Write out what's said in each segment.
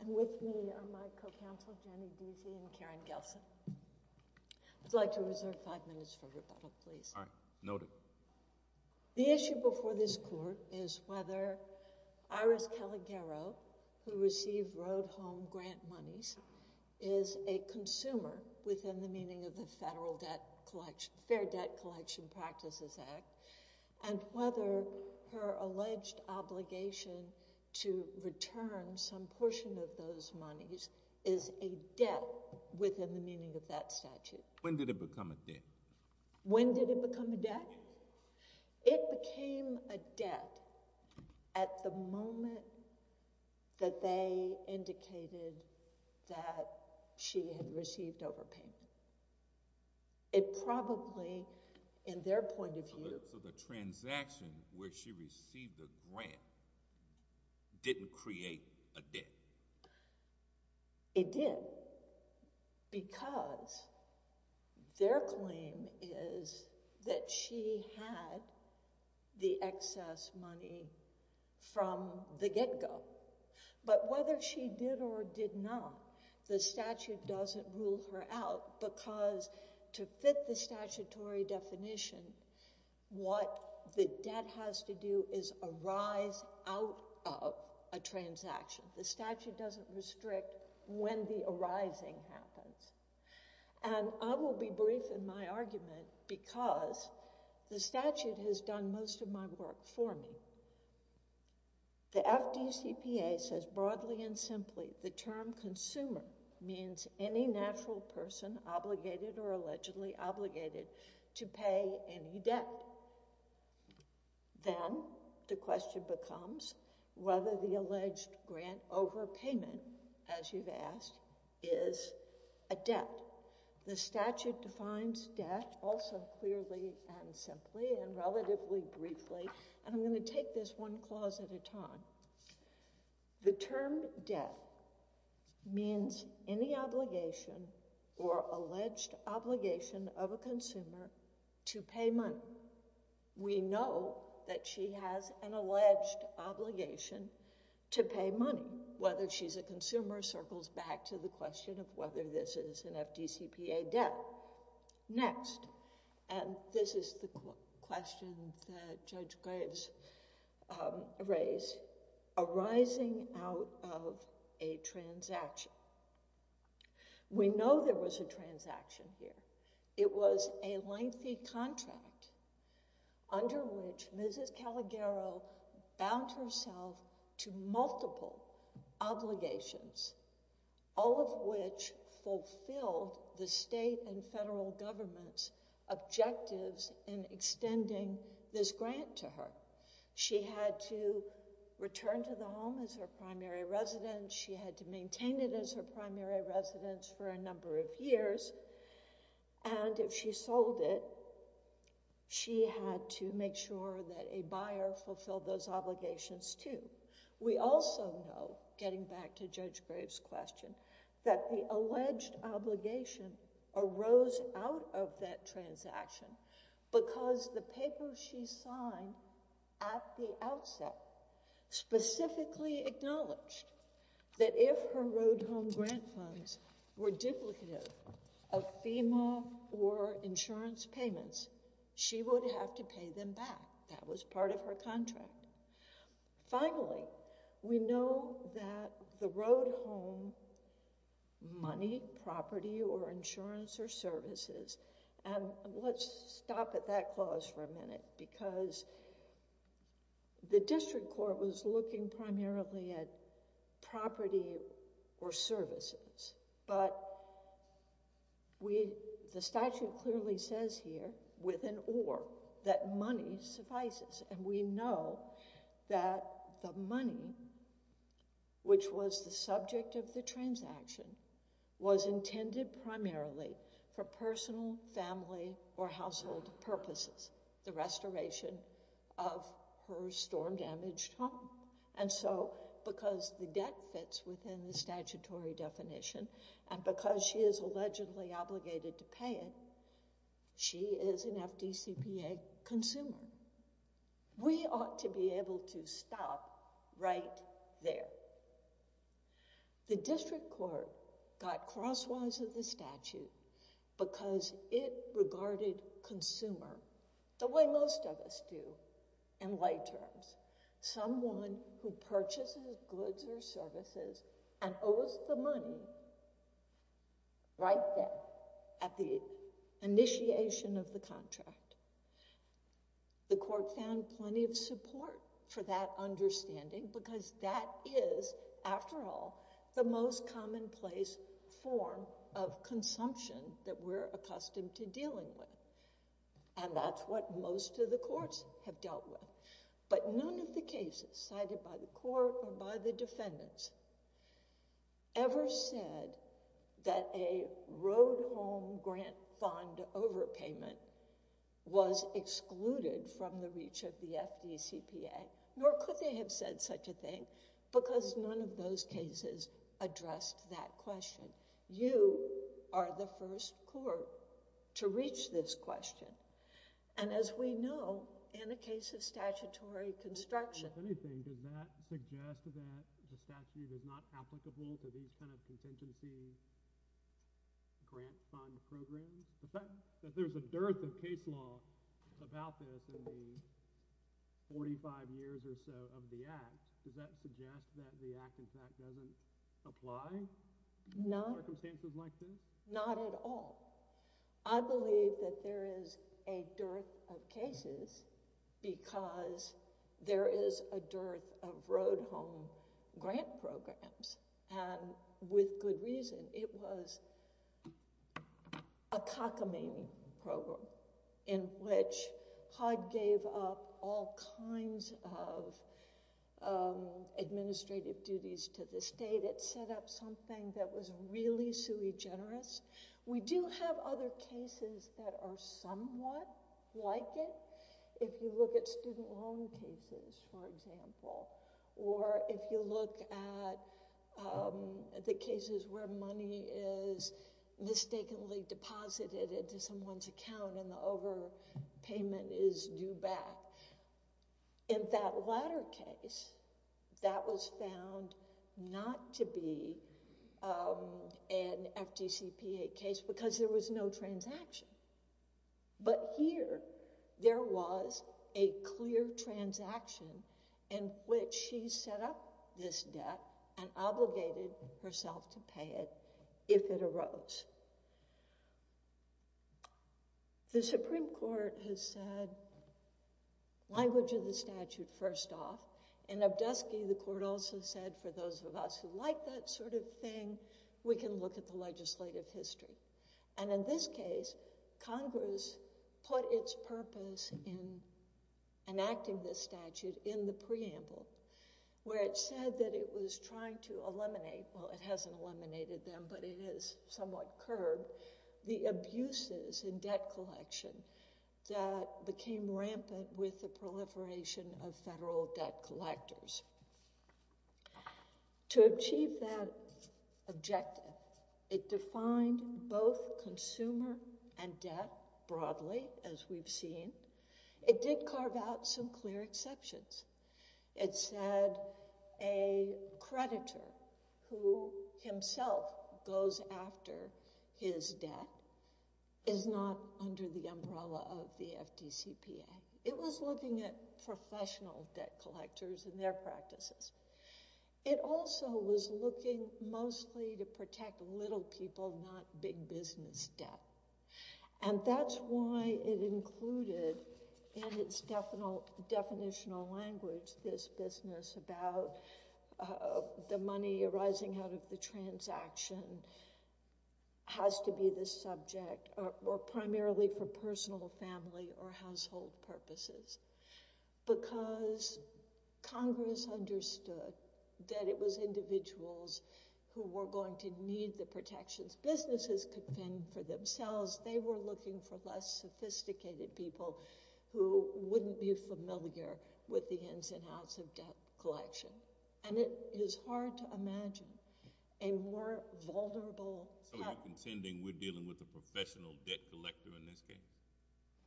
And with me are my co-counsel, Jenny Deasy, and Karen Gelson. I'd like to reserve five minutes for rebuttal, please. All right. Noted. The issue before this court is whether Iris Calogero, who received Road Home Grant monies, is a consumer within the meaning of the Federal Debt Collection—Fair Debt Collection Practices Act, and whether her alleged obligation to return some portion of those monies is a debt within the meaning of that statute. When did it become a debt? When did it become a debt? It became a debt at the moment that they indicated that she had received overpayment. It probably, in their point of view— So the transaction where she received the grant didn't create a debt? It did, because their claim is that she had the excess money from the get-go. But whether she did or did not, the statute doesn't rule her out, because to fit the statutory definition, what the debt has to do is arise out of a transaction. The statute doesn't restrict when the arising happens. And I will be brief in my argument, because the statute has done most of my work for me. The FDCPA says, broadly and simply, the term consumer means any natural person obligated or allegedly obligated to pay any debt. Then the question becomes whether the alleged grant overpayment, as you've asked, is a debt. The statute defines debt also clearly and simply and relatively briefly, and I'm going to take this one clause at a time. The term debt means any obligation or alleged obligation of a consumer to pay money. We know that she has an alleged obligation to pay money. Whether she's a consumer circles back to the question of whether this is an FDCPA debt. Next, and this is the question that Judge Graves raised, arising out of a transaction. We know there was a transaction here. It was a lengthy contract under which Mrs. Calagaro bound herself to multiple obligations, all of which fulfilled the state and federal government's objectives in extending this grant to her. She had to return to the home as her primary residence. She had to maintain it as her primary residence for a number of years. And if she sold it, she had to make sure that a buyer fulfilled those obligations too. We also know, getting back to Judge Graves' question, that the alleged obligation arose out of that transaction because the paper she signed at the outset specifically acknowledged that if her road home grant funds were duplicative of FEMA or insurance payments, she would have to pay them back. That was part of her contract. Finally, we know that the road home money, property or insurance or services, and let's stop at that clause for a minute, because the district court was looking primarily at property or services, but the statute clearly says here, with an or, that money suffices. And we know that the money, which was the subject of the transaction, was intended primarily for personal, family or household purposes, the restoration of her storm-damaged home. And so, because the debt fits within the statutory definition, and because she is allegedly obligated to pay it, she is an FDCPA consumer. We ought to be able to stop right there. The district court got crosswise of the statute because it regarded consumer, the way most of us do in lay terms, someone who purchases goods or services and owes the money right there at the initiation of the contract. The court found plenty of support for that understanding because that is, after all, the most commonplace form of consumption that we're accustomed to dealing with. And that's what most of the courts have dealt with. But none of the cases cited by the court or by the defendants ever said that a road home grant fund overpayment was excluded from the reach of the FDCPA. Nor could they have said such a thing because none of those cases addressed that question. You are the first court to reach this question. And as we know, in the case of statutory construction... If anything, does that suggest that the statute is not applicable to these kind of contingency grant fund programs? If there's a dearth of case law about this in the 45 years or so of the Act, does that suggest that the Act, in fact, doesn't apply? Not at all. I believe that there is a dearth of cases because there is a dearth of road home grant programs. And with good reason. It was a cockamamie program in which HUD gave up all kinds of administrative duties to the state. It set up something that was really sui generis. We do have other cases that are somewhat like it. If you look at student loan cases, for example. Or if you look at the cases where money is mistakenly deposited into someone's account and the overpayment is due back. In that latter case, that was found not to be an FDCPA case because there was no transaction. But here, there was a clear transaction in which she set up this debt and obligated herself to pay it if it arose. The Supreme Court has said, language of the statute, first off. In Obdusky, the court also said, for those of us who like that sort of thing, we can look at the legislative history. And in this case, Congress put its purpose in enacting this statute in the preamble where it said that it was trying to eliminate, well, it hasn't eliminated them, but it has somewhat curbed, the abuses in debt collection that became rampant with the proliferation of federal debt collectors. To achieve that objective, it defined both consumer and debt broadly, as we've seen. It did carve out some clear exceptions. It said a creditor who himself goes after his debt is not under the umbrella of the FDCPA. It was looking at professional debt collectors and their practices. It also was looking mostly to protect little people, not big business debt. And that's why it included in its definitional language this business about the money arising out of the transaction has to be the subject, or primarily for personal, family, or household purposes. Because Congress understood that it was individuals who were going to need the protections businesses could fend for themselves. They were looking for less sophisticated people who wouldn't be familiar with the ins and outs of debt collection. And it is hard to imagine a more vulnerable... So you're contending we're dealing with a professional debt collector in this case?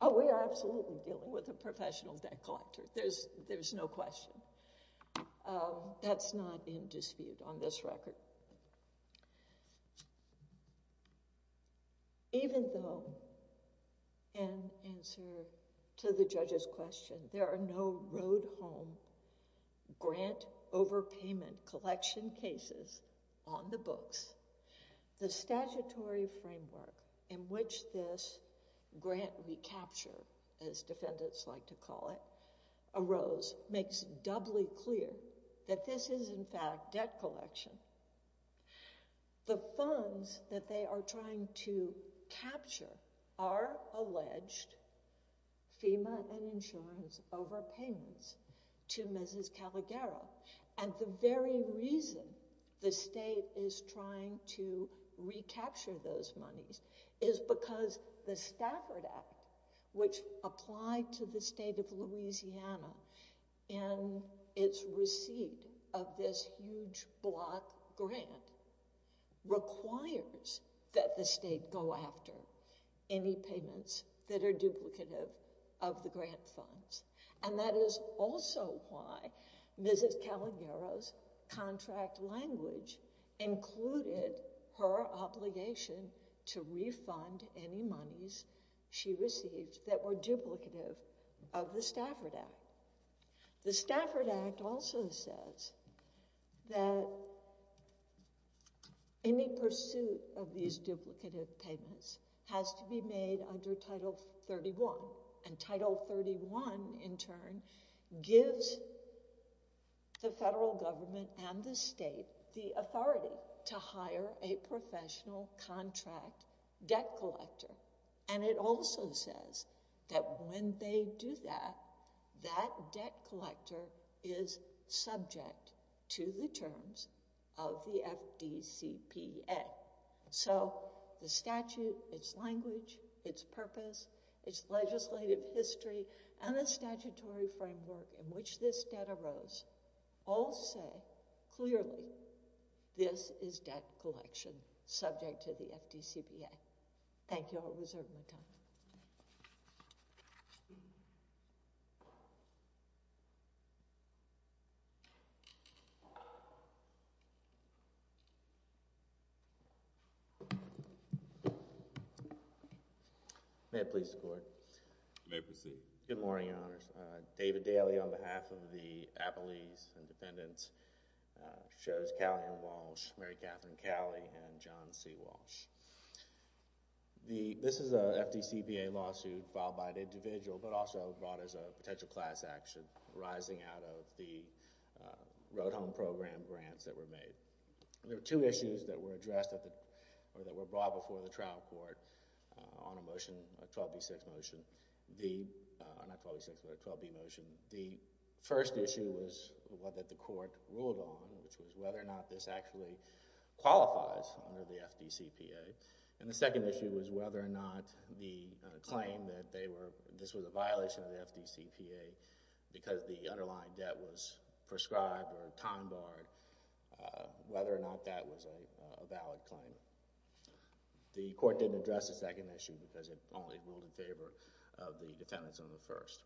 Oh, we are absolutely dealing with a professional debt collector. There's no question. That's not in dispute on this record. Even though, in answer to the judge's question, there are no road home grant overpayment collection cases on the books, the statutory framework in which this grant recapture, as defendants like to call it, arose, makes doubly clear that this is, in fact, debt collection. The funds that they are trying to capture are alleged FEMA and insurance overpayments to Mrs. Calagaro. And the very reason the state is trying to recapture those monies is because the Stafford Act, which applied to the state of Louisiana in its receipt of this huge block grant, requires that the state go after any payments that are duplicative of the grant funds. And that is also why Mrs. Calagaro's contract language included her obligation to refund any monies she received that were duplicative of the Stafford Act. The Stafford Act also says that any pursuit of these duplicative payments has to be made under Title 31. And Title 31, in turn, gives the federal government and the state the authority to hire a professional contract debt collector. And it also says that when they do that, that debt collector is subject to the terms of the FDCPA. So the statute, its language, its purpose, its legislative history, and the statutory framework in which this debt arose all say clearly this is debt collection subject to the FDCPA. Thank you. I'll reserve my time. May it please the Court. You may proceed. Good morning, Your Honors. David Daly on behalf of the Appellees and Dependents, shows Callie and Walsh, Mary Catherine Callie, and John C. Walsh. This is a FDCPA lawsuit filed by an individual, but also brought as a potential class action arising out of the Road Home Program grants that were made. There were two issues that were brought before the trial court on a 12b6 motion. Not 12b6, but a 12b motion. The first issue was what the court ruled on, which was whether or not this actually qualifies under the FDCPA. And the second issue was whether or not the claim that this was a violation of the FDCPA because the underlying debt was prescribed or time barred, whether or not that was a valid claim. The court didn't address the second issue because it only ruled in favor of the defendants on the first.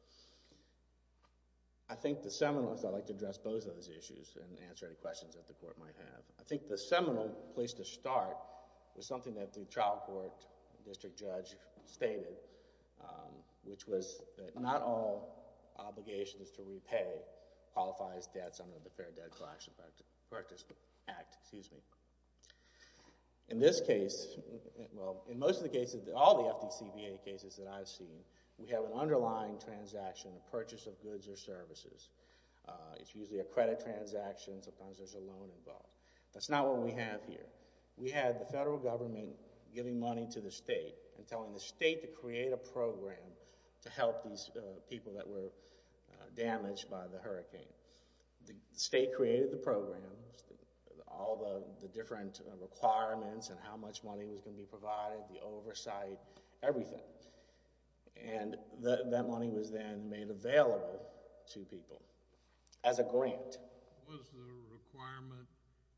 I think the seminal, so I'd like to address both of those issues and answer any questions that the court might have. I think the seminal place to start was something that the trial court district judge stated, which was that not all obligations to repay qualifies debts under the Fair Debt Collection Practice Act. In this case, well, in most of the cases, all the FDCPA cases that I've seen, we have an underlying transaction, a purchase of goods or services. It's usually a credit transaction. Sometimes there's a loan involved. That's not what we have here. We had the federal government giving money to the state and telling the state to create a program to help these people that were damaged by the hurricane. The state created the programs, all the different requirements and how much money was going to be provided, the oversight, everything. And that money was then made available to people as a grant. Was the requirement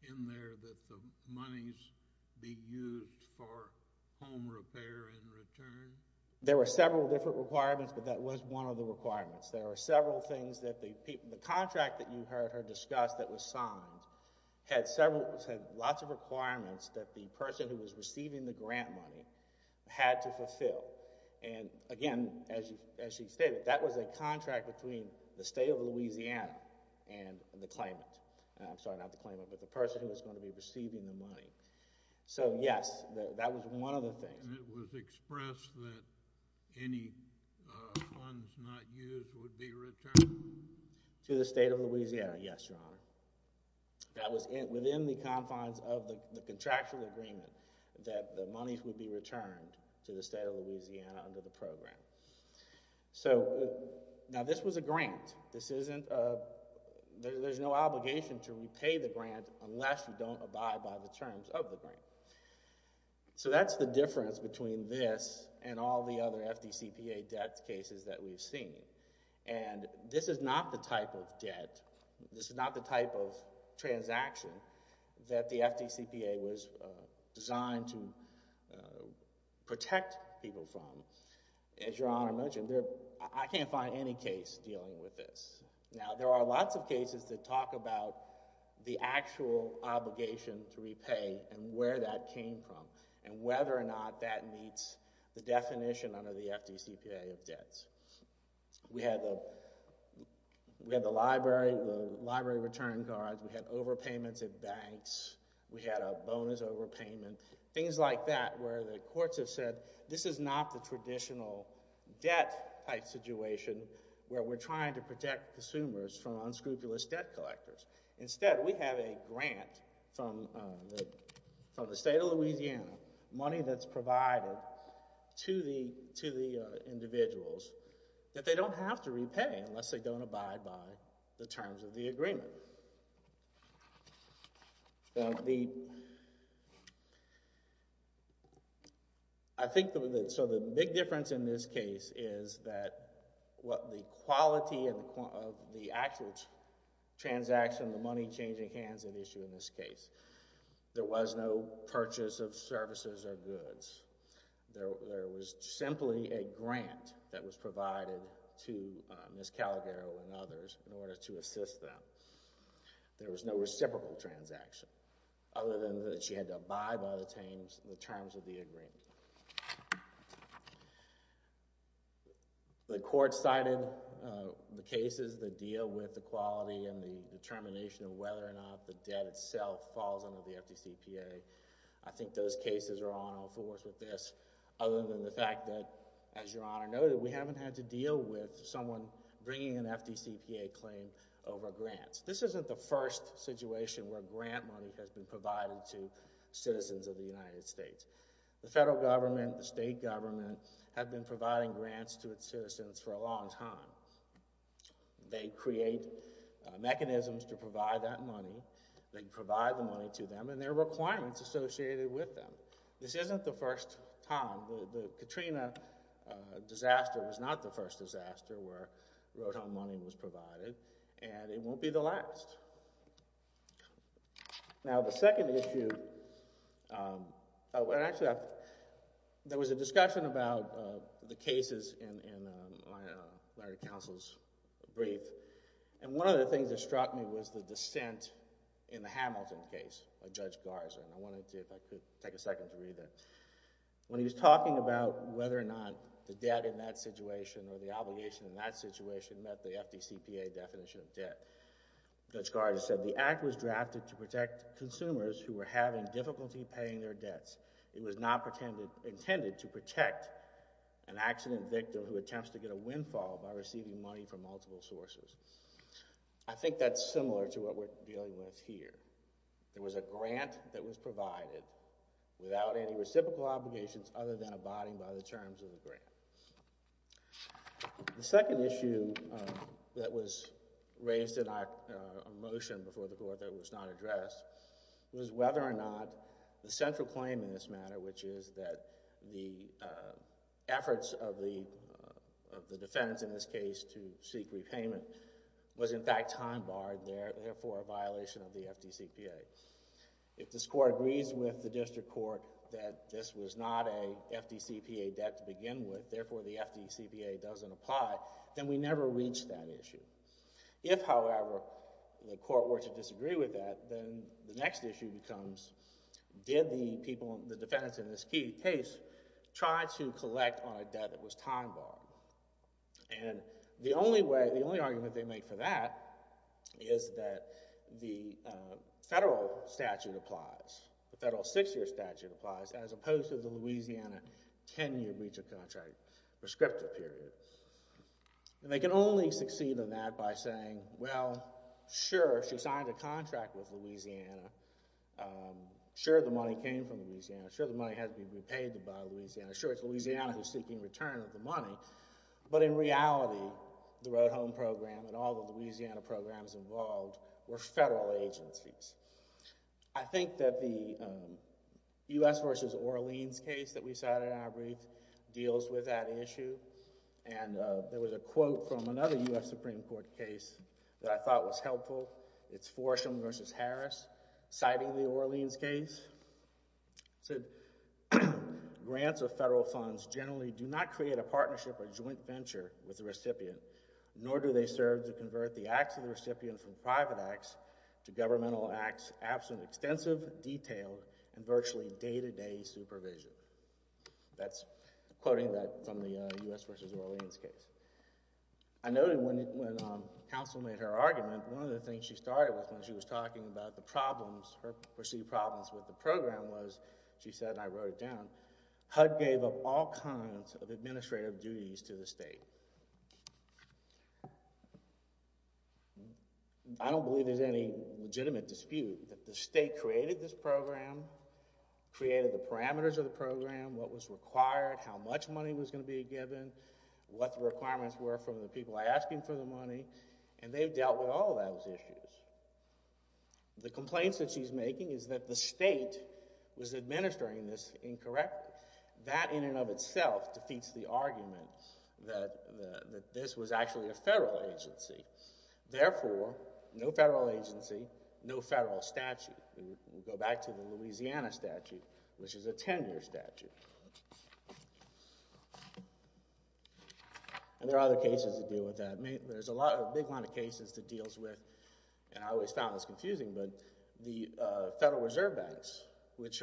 in there that the monies be used for home repair in return? There were several different requirements, but that was one of the requirements. There were several things that the contract that you heard her discuss that was signed had lots of requirements that the person who was receiving the grant money had to fulfill. And again, as she stated, that was a contract between the state of Louisiana and the claimant. I'm sorry, not the claimant, but the person who was going to be receiving the money. So yes, that was one of the things. And it was expressed that any funds not used would be returned? To the state of Louisiana, yes, Your Honor. That was within the confines of the contractual agreement that the monies would be returned to the state of Louisiana under the program. So now this was a grant. There's no obligation to repay the grant unless you don't abide by the terms of the grant. So that's the difference between this and all the other FDCPA debt cases that we've seen. And this is not the type of debt, this is not the type of transaction that the FDCPA was designed to protect people from. As Your Honor mentioned, I can't find any case dealing with this. Now, there are lots of cases that talk about the actual obligation to repay and where that came from and whether or not that meets the definition under the FDCPA of debts. We had the library return cards, we had overpayments at banks, we had a bonus overpayment, things like that where the courts have said, this is not the traditional debt-type situation where we're trying to protect consumers from unscrupulous debt collectors. Instead, we have a grant from the state of Louisiana, money that's provided to the individuals that they don't have to repay unless they don't abide by the terms of the agreement. So the big difference in this case is that the quality of the actual transaction, the money changing hands at issue in this case, there was no purchase of services or goods. There was simply a grant that was provided to Ms. Calagaro and others in order to assist them. There was no reciprocal transaction other than that she had to abide by the terms of the agreement. The court cited the cases that deal with the quality and the determination of whether or not the debt itself falls under the FDCPA. I think those cases are on all fours with this other than the fact that, as Your Honor noted, we haven't had to deal with someone bringing an FDCPA claim over grants. This isn't the first situation where grant money has been provided to citizens of the United States. The federal government, the state government have been providing grants to its citizens for a long time. They create mechanisms to provide that money. They provide the money to them and there are requirements associated with them. This isn't the first time. The Katrina disaster was not the first disaster where road home money was provided, and it won't be the last. Now, the second issue... Actually, there was a discussion about the cases in Larry Counsel's brief, and one of the things that struck me was the dissent in the Hamilton case by Judge Garza. I wanted to, if I could, take a second to read that. When he was talking about whether or not the debt in that situation or the obligation in that situation met the FDCPA definition of debt, Judge Garza said, The act was drafted to protect consumers who were having difficulty paying their debts. It was not intended to protect an accident victim who attempts to get a windfall by receiving money from multiple sources. I think that's similar to what we're dealing with here. There was a grant that was provided without any reciprocal obligations other than abiding by the terms of the grant. The second issue that was raised in our motion before the Court that was not addressed was whether or not the central claim in this matter, which is that the efforts of the defendants in this case to seek repayment was in fact time-barred, therefore a violation of the FDCPA. If this Court agrees with the District Court that this was not a FDCPA debt to begin with, therefore the FDCPA doesn't apply, then we never reach that issue. If, however, the Court were to disagree with that, then the next issue becomes, did the defendants in this case try to collect on a debt that was time-barred? And the only argument they make for that is that the federal statute applies, the federal six-year statute applies, as opposed to the Louisiana 10-year breach of contract prescriptive period. And they can only succeed in that by saying, well, sure, she signed a contract with Louisiana. Sure, the money came from Louisiana. Sure, the money has to be repaid by Louisiana. Sure, it's Louisiana who's seeking return of the money. But in reality, the Road Home Program and all the Louisiana programs involved were federal agencies. I think that the U.S. v. Orleans case that we cited in our brief deals with that issue. And there was a quote from another U.S. Supreme Court case that I thought was helpful. It's Forsham v. Harris citing the Orleans case. It said, Grants of federal funds generally do not create a partnership or joint venture with the recipient, nor do they serve to convert the acts of the recipient from private acts to governmental acts absent extensive, detailed, and virtually day-to-day supervision. That's quoting that from the U.S. v. Orleans case. I noted when counsel made her argument, one of the things she started with when she was talking about the problems, her perceived problems with the program was, she said, and I wrote it down, HUD gave up all kinds of administrative duties to the state. I don't believe there's any legitimate dispute that the state created this program, created the parameters of the program, what was required, how much money was going to be given, what the requirements were from the people asking for the money, and they've dealt with all of those issues. The complaints that she's making is that the state was administering this incorrectly. That in and of itself defeats the argument that this was actually a federal agency. Therefore, no federal agency, no federal statute. We'll go back to the Louisiana statute, which is a 10-year statute. And there are other cases that deal with that. There's a big line of cases that deals with, and I always found this confusing, but the Federal Reserve Banks, which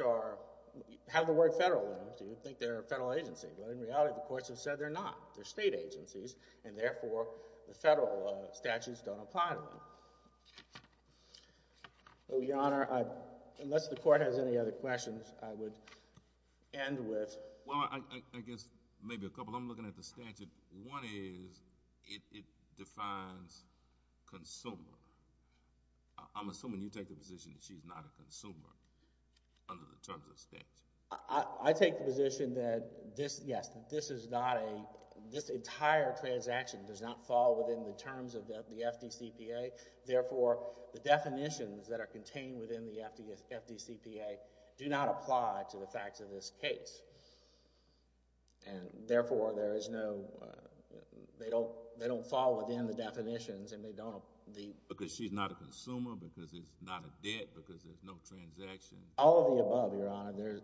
have the word federal in them, so you'd think they're a federal agency, but in reality, the courts have said they're not. They're state agencies, and therefore, the federal statutes don't apply to them. Your Honor, unless the court has any other questions, I would end with... Well, I guess maybe a couple. I'm looking at the statute. One is it defines consumer. I'm assuming you take the position that she's not a consumer under the terms of the statute. I take the position that this, yes, that this is not a... This entire transaction does not fall within the terms of the FDCPA. Therefore, the definitions that are contained within the FDCPA do not apply to the facts of this case. And therefore, there is no... They don't fall within the definitions, and they don't... Because she's not a consumer, because it's not a debt, because there's no transaction. All of the above, Your Honor.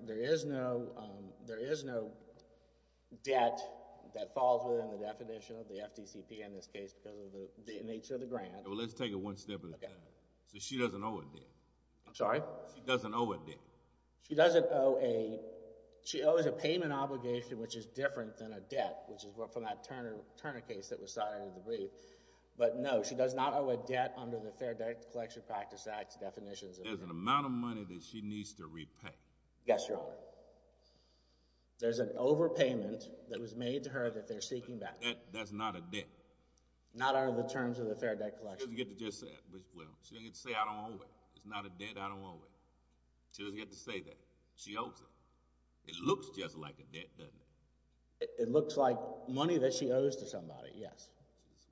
There is no debt that falls within the definition of the FDCPA in this case because of the nature of the grant. Well, let's take it one step at a time. So she doesn't owe a debt. I'm sorry? She doesn't owe a debt. She doesn't owe a... She owes a payment obligation, which is different than a debt, which is from that Turner case that was cited in the brief. But no, she does not owe a debt under the Fair Debt Collection Practice Act's definitions. There's an amount of money that she needs to repay. Yes, Your Honor. There's an overpayment that was made to her that they're seeking back. That's not a debt. Not under the terms of the Fair Debt Collection. She doesn't get to just say it. She doesn't get to say, I don't owe it. It's not a debt, I don't owe it. She doesn't get to say that. She owes it. It looks just like a debt, doesn't it? It looks like money that she owes to somebody, yes.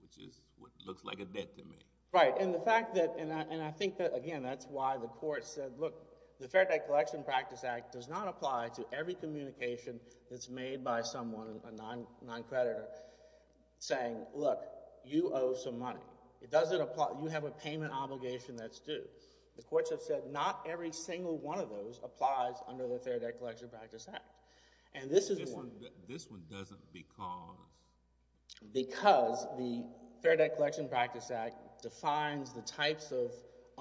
Which is what looks like a debt to me. Right, and the fact that... And I think that, again, that's why the court said, look, the Fair Debt Collection Practice Act does not apply to every communication that's made by someone, a non-creditor, saying, look, you owe some money. It doesn't apply. You have a payment obligation that's due. The courts have said not every single one of those applies under the Fair Debt Collection Practice Act. And this is the one... This one doesn't because... Because the Fair Debt Collection Practice Act defines the types of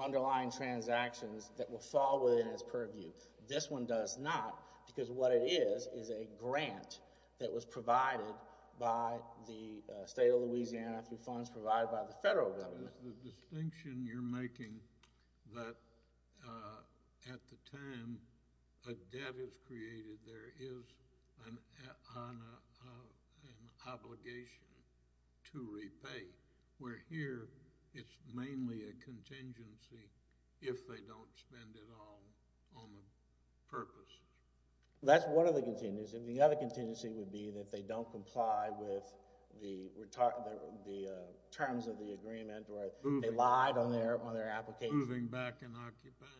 underlying transactions that will fall within its purview. This one does not because what it is is a grant that was provided by the state of Louisiana through funds provided by the federal government. The distinction you're making, that at the time a debt is created, there is an obligation to repay, where here it's mainly a contingency if they don't spend it all on the purposes. That's one of the contingencies. The other contingency would be that they don't comply with the terms of the agreement or they lied on their application. Moving back and occupying.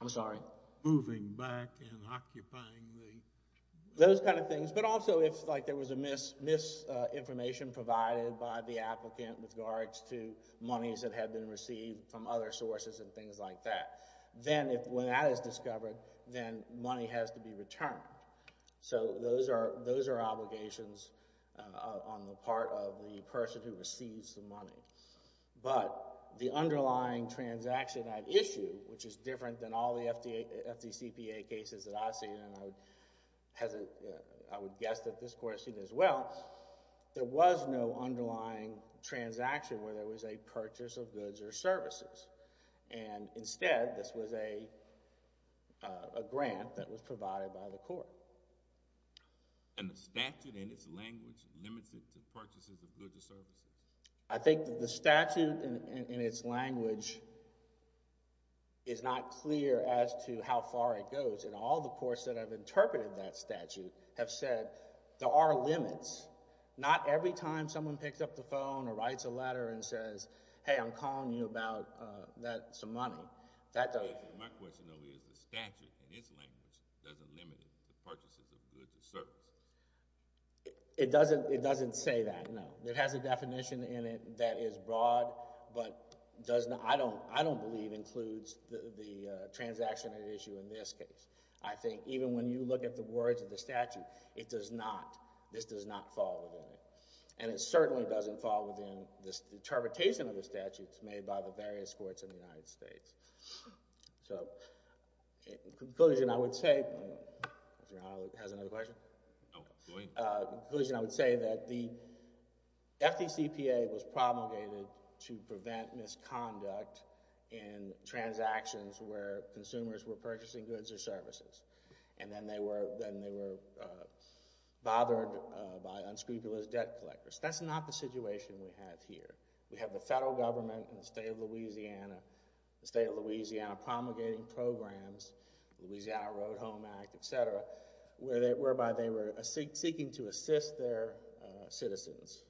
I'm sorry? Moving back and occupying the... Those kind of things. But also if there was a misinformation provided by the applicant with regards to monies that had been received from other sources and things like that, then when that is discovered, then money has to be returned. So those are obligations on the part of the person who receives the money. But the underlying transaction at issue, which is different than all the FDCPA cases that I've seen and I would guess that this court has seen as well, there was no underlying transaction where there was a purchase of goods or services. And instead, this was a grant that was provided by the court. And the statute in its language limits it to purchases of goods or services? I think the statute in its language is not clear as to how far it goes. And all the courts that have interpreted that statute have said there are limits. Not every time someone picks up the phone or writes a letter and says, hey, I'm calling you about some money. My question, though, is the statute in its language doesn't limit it to purchases of goods or services? It doesn't say that, no. It has a definition in it that is broad but I don't believe includes the transaction at issue in this case. I think even when you look at the words of the statute, it does not, this does not fall within it. And it certainly doesn't fall within the interpretation of the statutes made by the various courts in the United States. So, in conclusion, I would say... Has another question? In conclusion, I would say that the FDCPA was promulgated to prevent misconduct in transactions where consumers were purchasing goods or services. And then they were bothered by unscrupulous debt collectors. That's not the situation we have here. We have the federal government in the state of Louisiana, the state of Louisiana promulgating programs, the Louisiana Road Home Act, et cetera, whereby they were seeking to assist their citizens,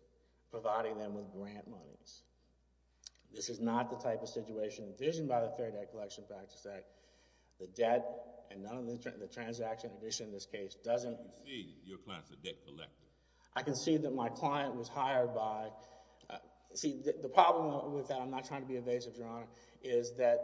providing them with grant monies. This is not the type of situation envisioned by the Fair Debt Collection Practices Act. The debt and none of the transaction addition in this case doesn't... I can see your client's a debt collector. I can see that my client was hired by... See, the problem with that, I'm not trying to be evasive, Your Honor, is that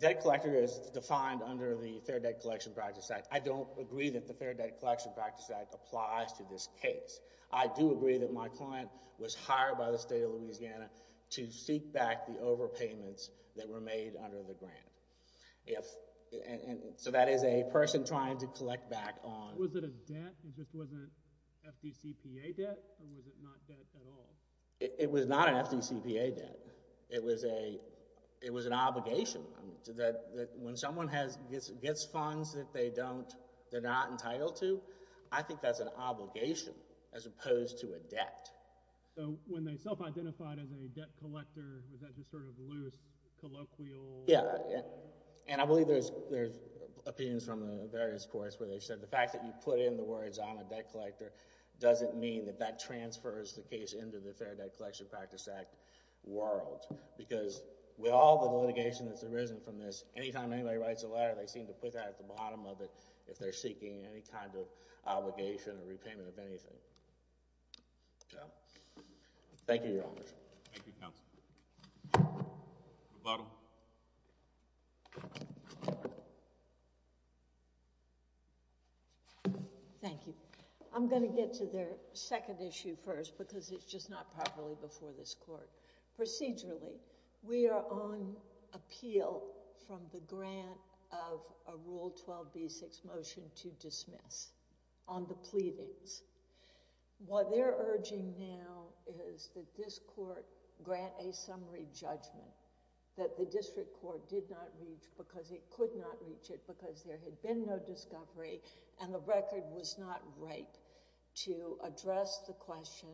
debt collector is defined under the Fair Debt Collection Practices Act. I don't agree that the Fair Debt Collection Practices Act applies to this case. I do agree that my client was hired by the state of Louisiana to seek back the overpayments that were made under the grant. So that is a person trying to collect back on... Was it a debt? It just wasn't FDCPA debt? Or was it not debt at all? It was not an FDCPA debt. It was an obligation. When someone gets funds that they're not entitled to, I think that's an obligation as opposed to a debt. So when they self-identified as a debt collector, was that just sort of loose, colloquial? Yeah. And I believe there's opinions from various courts where they said the fact that you put in the words I'm a debt collector doesn't mean that that transfers the case into the Fair Debt Collection Practices Act world. Because with all the litigation that's arisen from this, any time anybody writes a letter, they seem to put that at the bottom of it if they're seeking any kind of obligation or repayment of anything. Yeah. Thank you, Your Honor. Thank you, counsel. Rebuttal. Thank you. I'm going to get to their second issue first because it's just not properly before this court. Procedurally, we are on appeal from the grant of a Rule 12b-6 motion to dismiss on the pleadings. What they're urging now is that this court grant a summary judgment that the district court did not reach because it could not reach it because there had been no discovery and the record was not right to address the question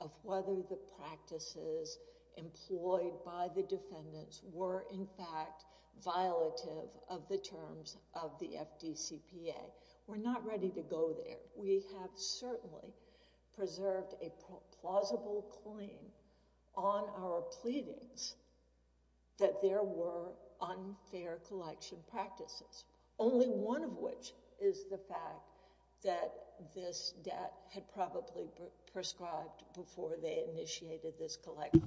of whether the practices employed by the defendants were, in fact, violative of the terms of the FDCPA. We're not ready to go there. We have certainly preserved a plausible claim on our pleadings that there were unfair collection practices, only one of which is the fact that this debt had probably prescribed before they initiated this collection.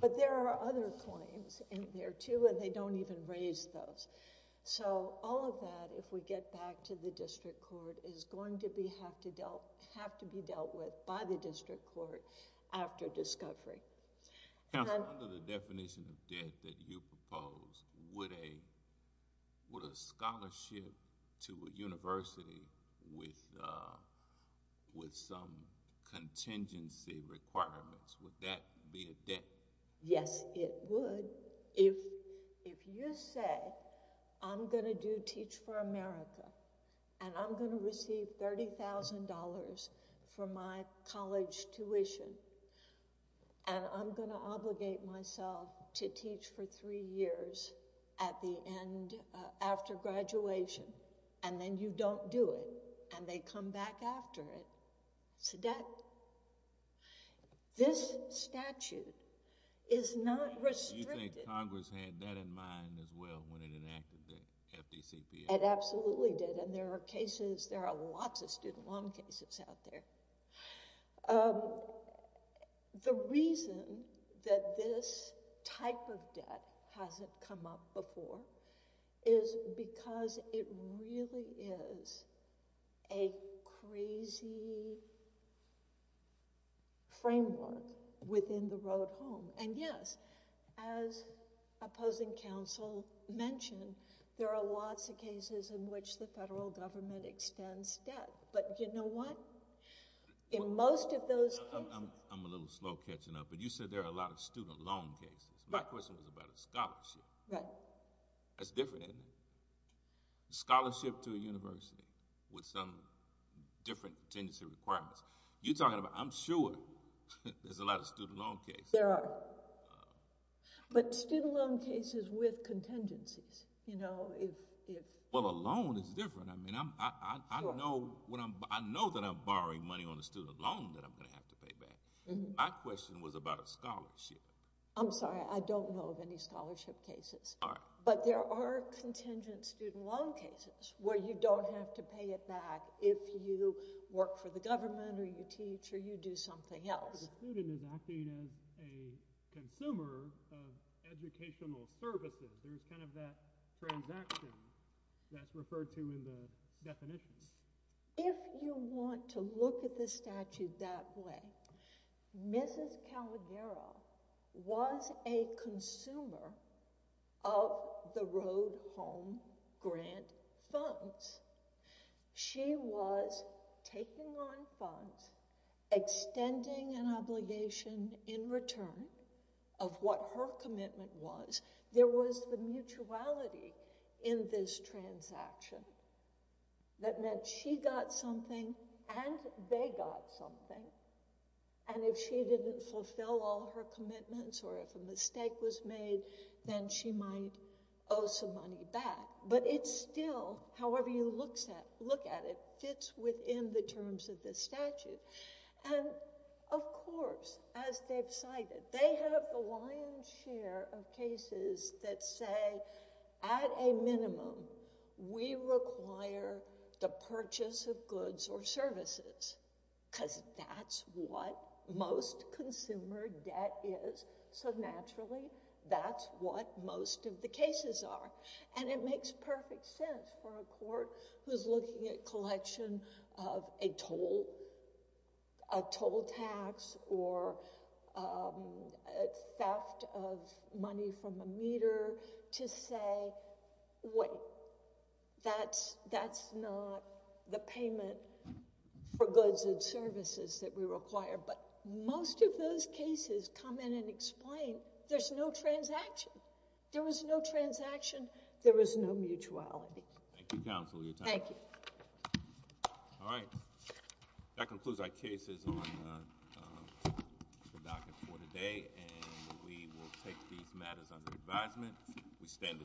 But there are other claims in there, too, and they don't even raise those. So all of that, if we get back to the district court, is going to have to be dealt with by the district court after discovery. Counsel, under the definition of debt that you propose, would a scholarship to a university with some contingency requirements, would that be a debt? Yes, it would. If you say, I'm going to do Teach for America and I'm going to receive $30,000 for my college tuition and I'm going to obligate myself to teach for three years at the end after graduation and then you don't do it and they come back after it, it's a debt. This statute is not restricted... Do you think Congress had that in mind as well when it enacted the FDCPA? It absolutely did, and there are cases, there are lots of student loan cases out there. The reason that this type of debt hasn't come up before is because it really is a crazy framework within the road home. And yes, as opposing counsel mentioned, there are lots of cases in which the federal government extends debt. But you know what? In most of those cases... I'm a little slow catching up, but you said there are a lot of student loan cases. My question was about a scholarship. That's different, isn't it? Scholarship to a university with some different contingency requirements. You're talking about, I'm sure, there's a lot of student loan cases. There are. But student loan cases with contingencies. Well, a loan is different. I know that I'm borrowing money on a student loan that I'm going to have to pay back. My question was about a scholarship. I'm sorry, I don't know of any scholarship cases. But there are contingent student loan cases where you don't have to pay it back if you work for the government or you teach or you do something else. The student is acting as a consumer of educational services. There's kind of that transaction that's referred to in the definitions. If you want to look at the statute that way, Mrs. Calogero was a consumer of the Road Home Grant funds. She was taking on funds, extending an obligation in return of what her commitment was. There was the mutuality in this transaction that meant she got something and they got something. And if she didn't fulfill all her commitments or if a mistake was made, then she might owe some money back. But it still, however you look at it, fits within the terms of the statute. And of course, as they've cited, they have the lion's share of cases that say, at a minimum, we require the purchase of goods or services because that's what most consumer debt is. So naturally, that's what most of the cases are. And it makes perfect sense for a court who's looking at collection of a toll tax or theft of money from a meter to say, wait, that's not the payment for goods and services that we require. But most of those cases come in and explain there's no transaction. There was no transaction. There was no mutuality. Thank you, counsel, for your time. Thank you. All right. That concludes our cases on the docket for today. And we will take these matters under advisement. We stand adjourned.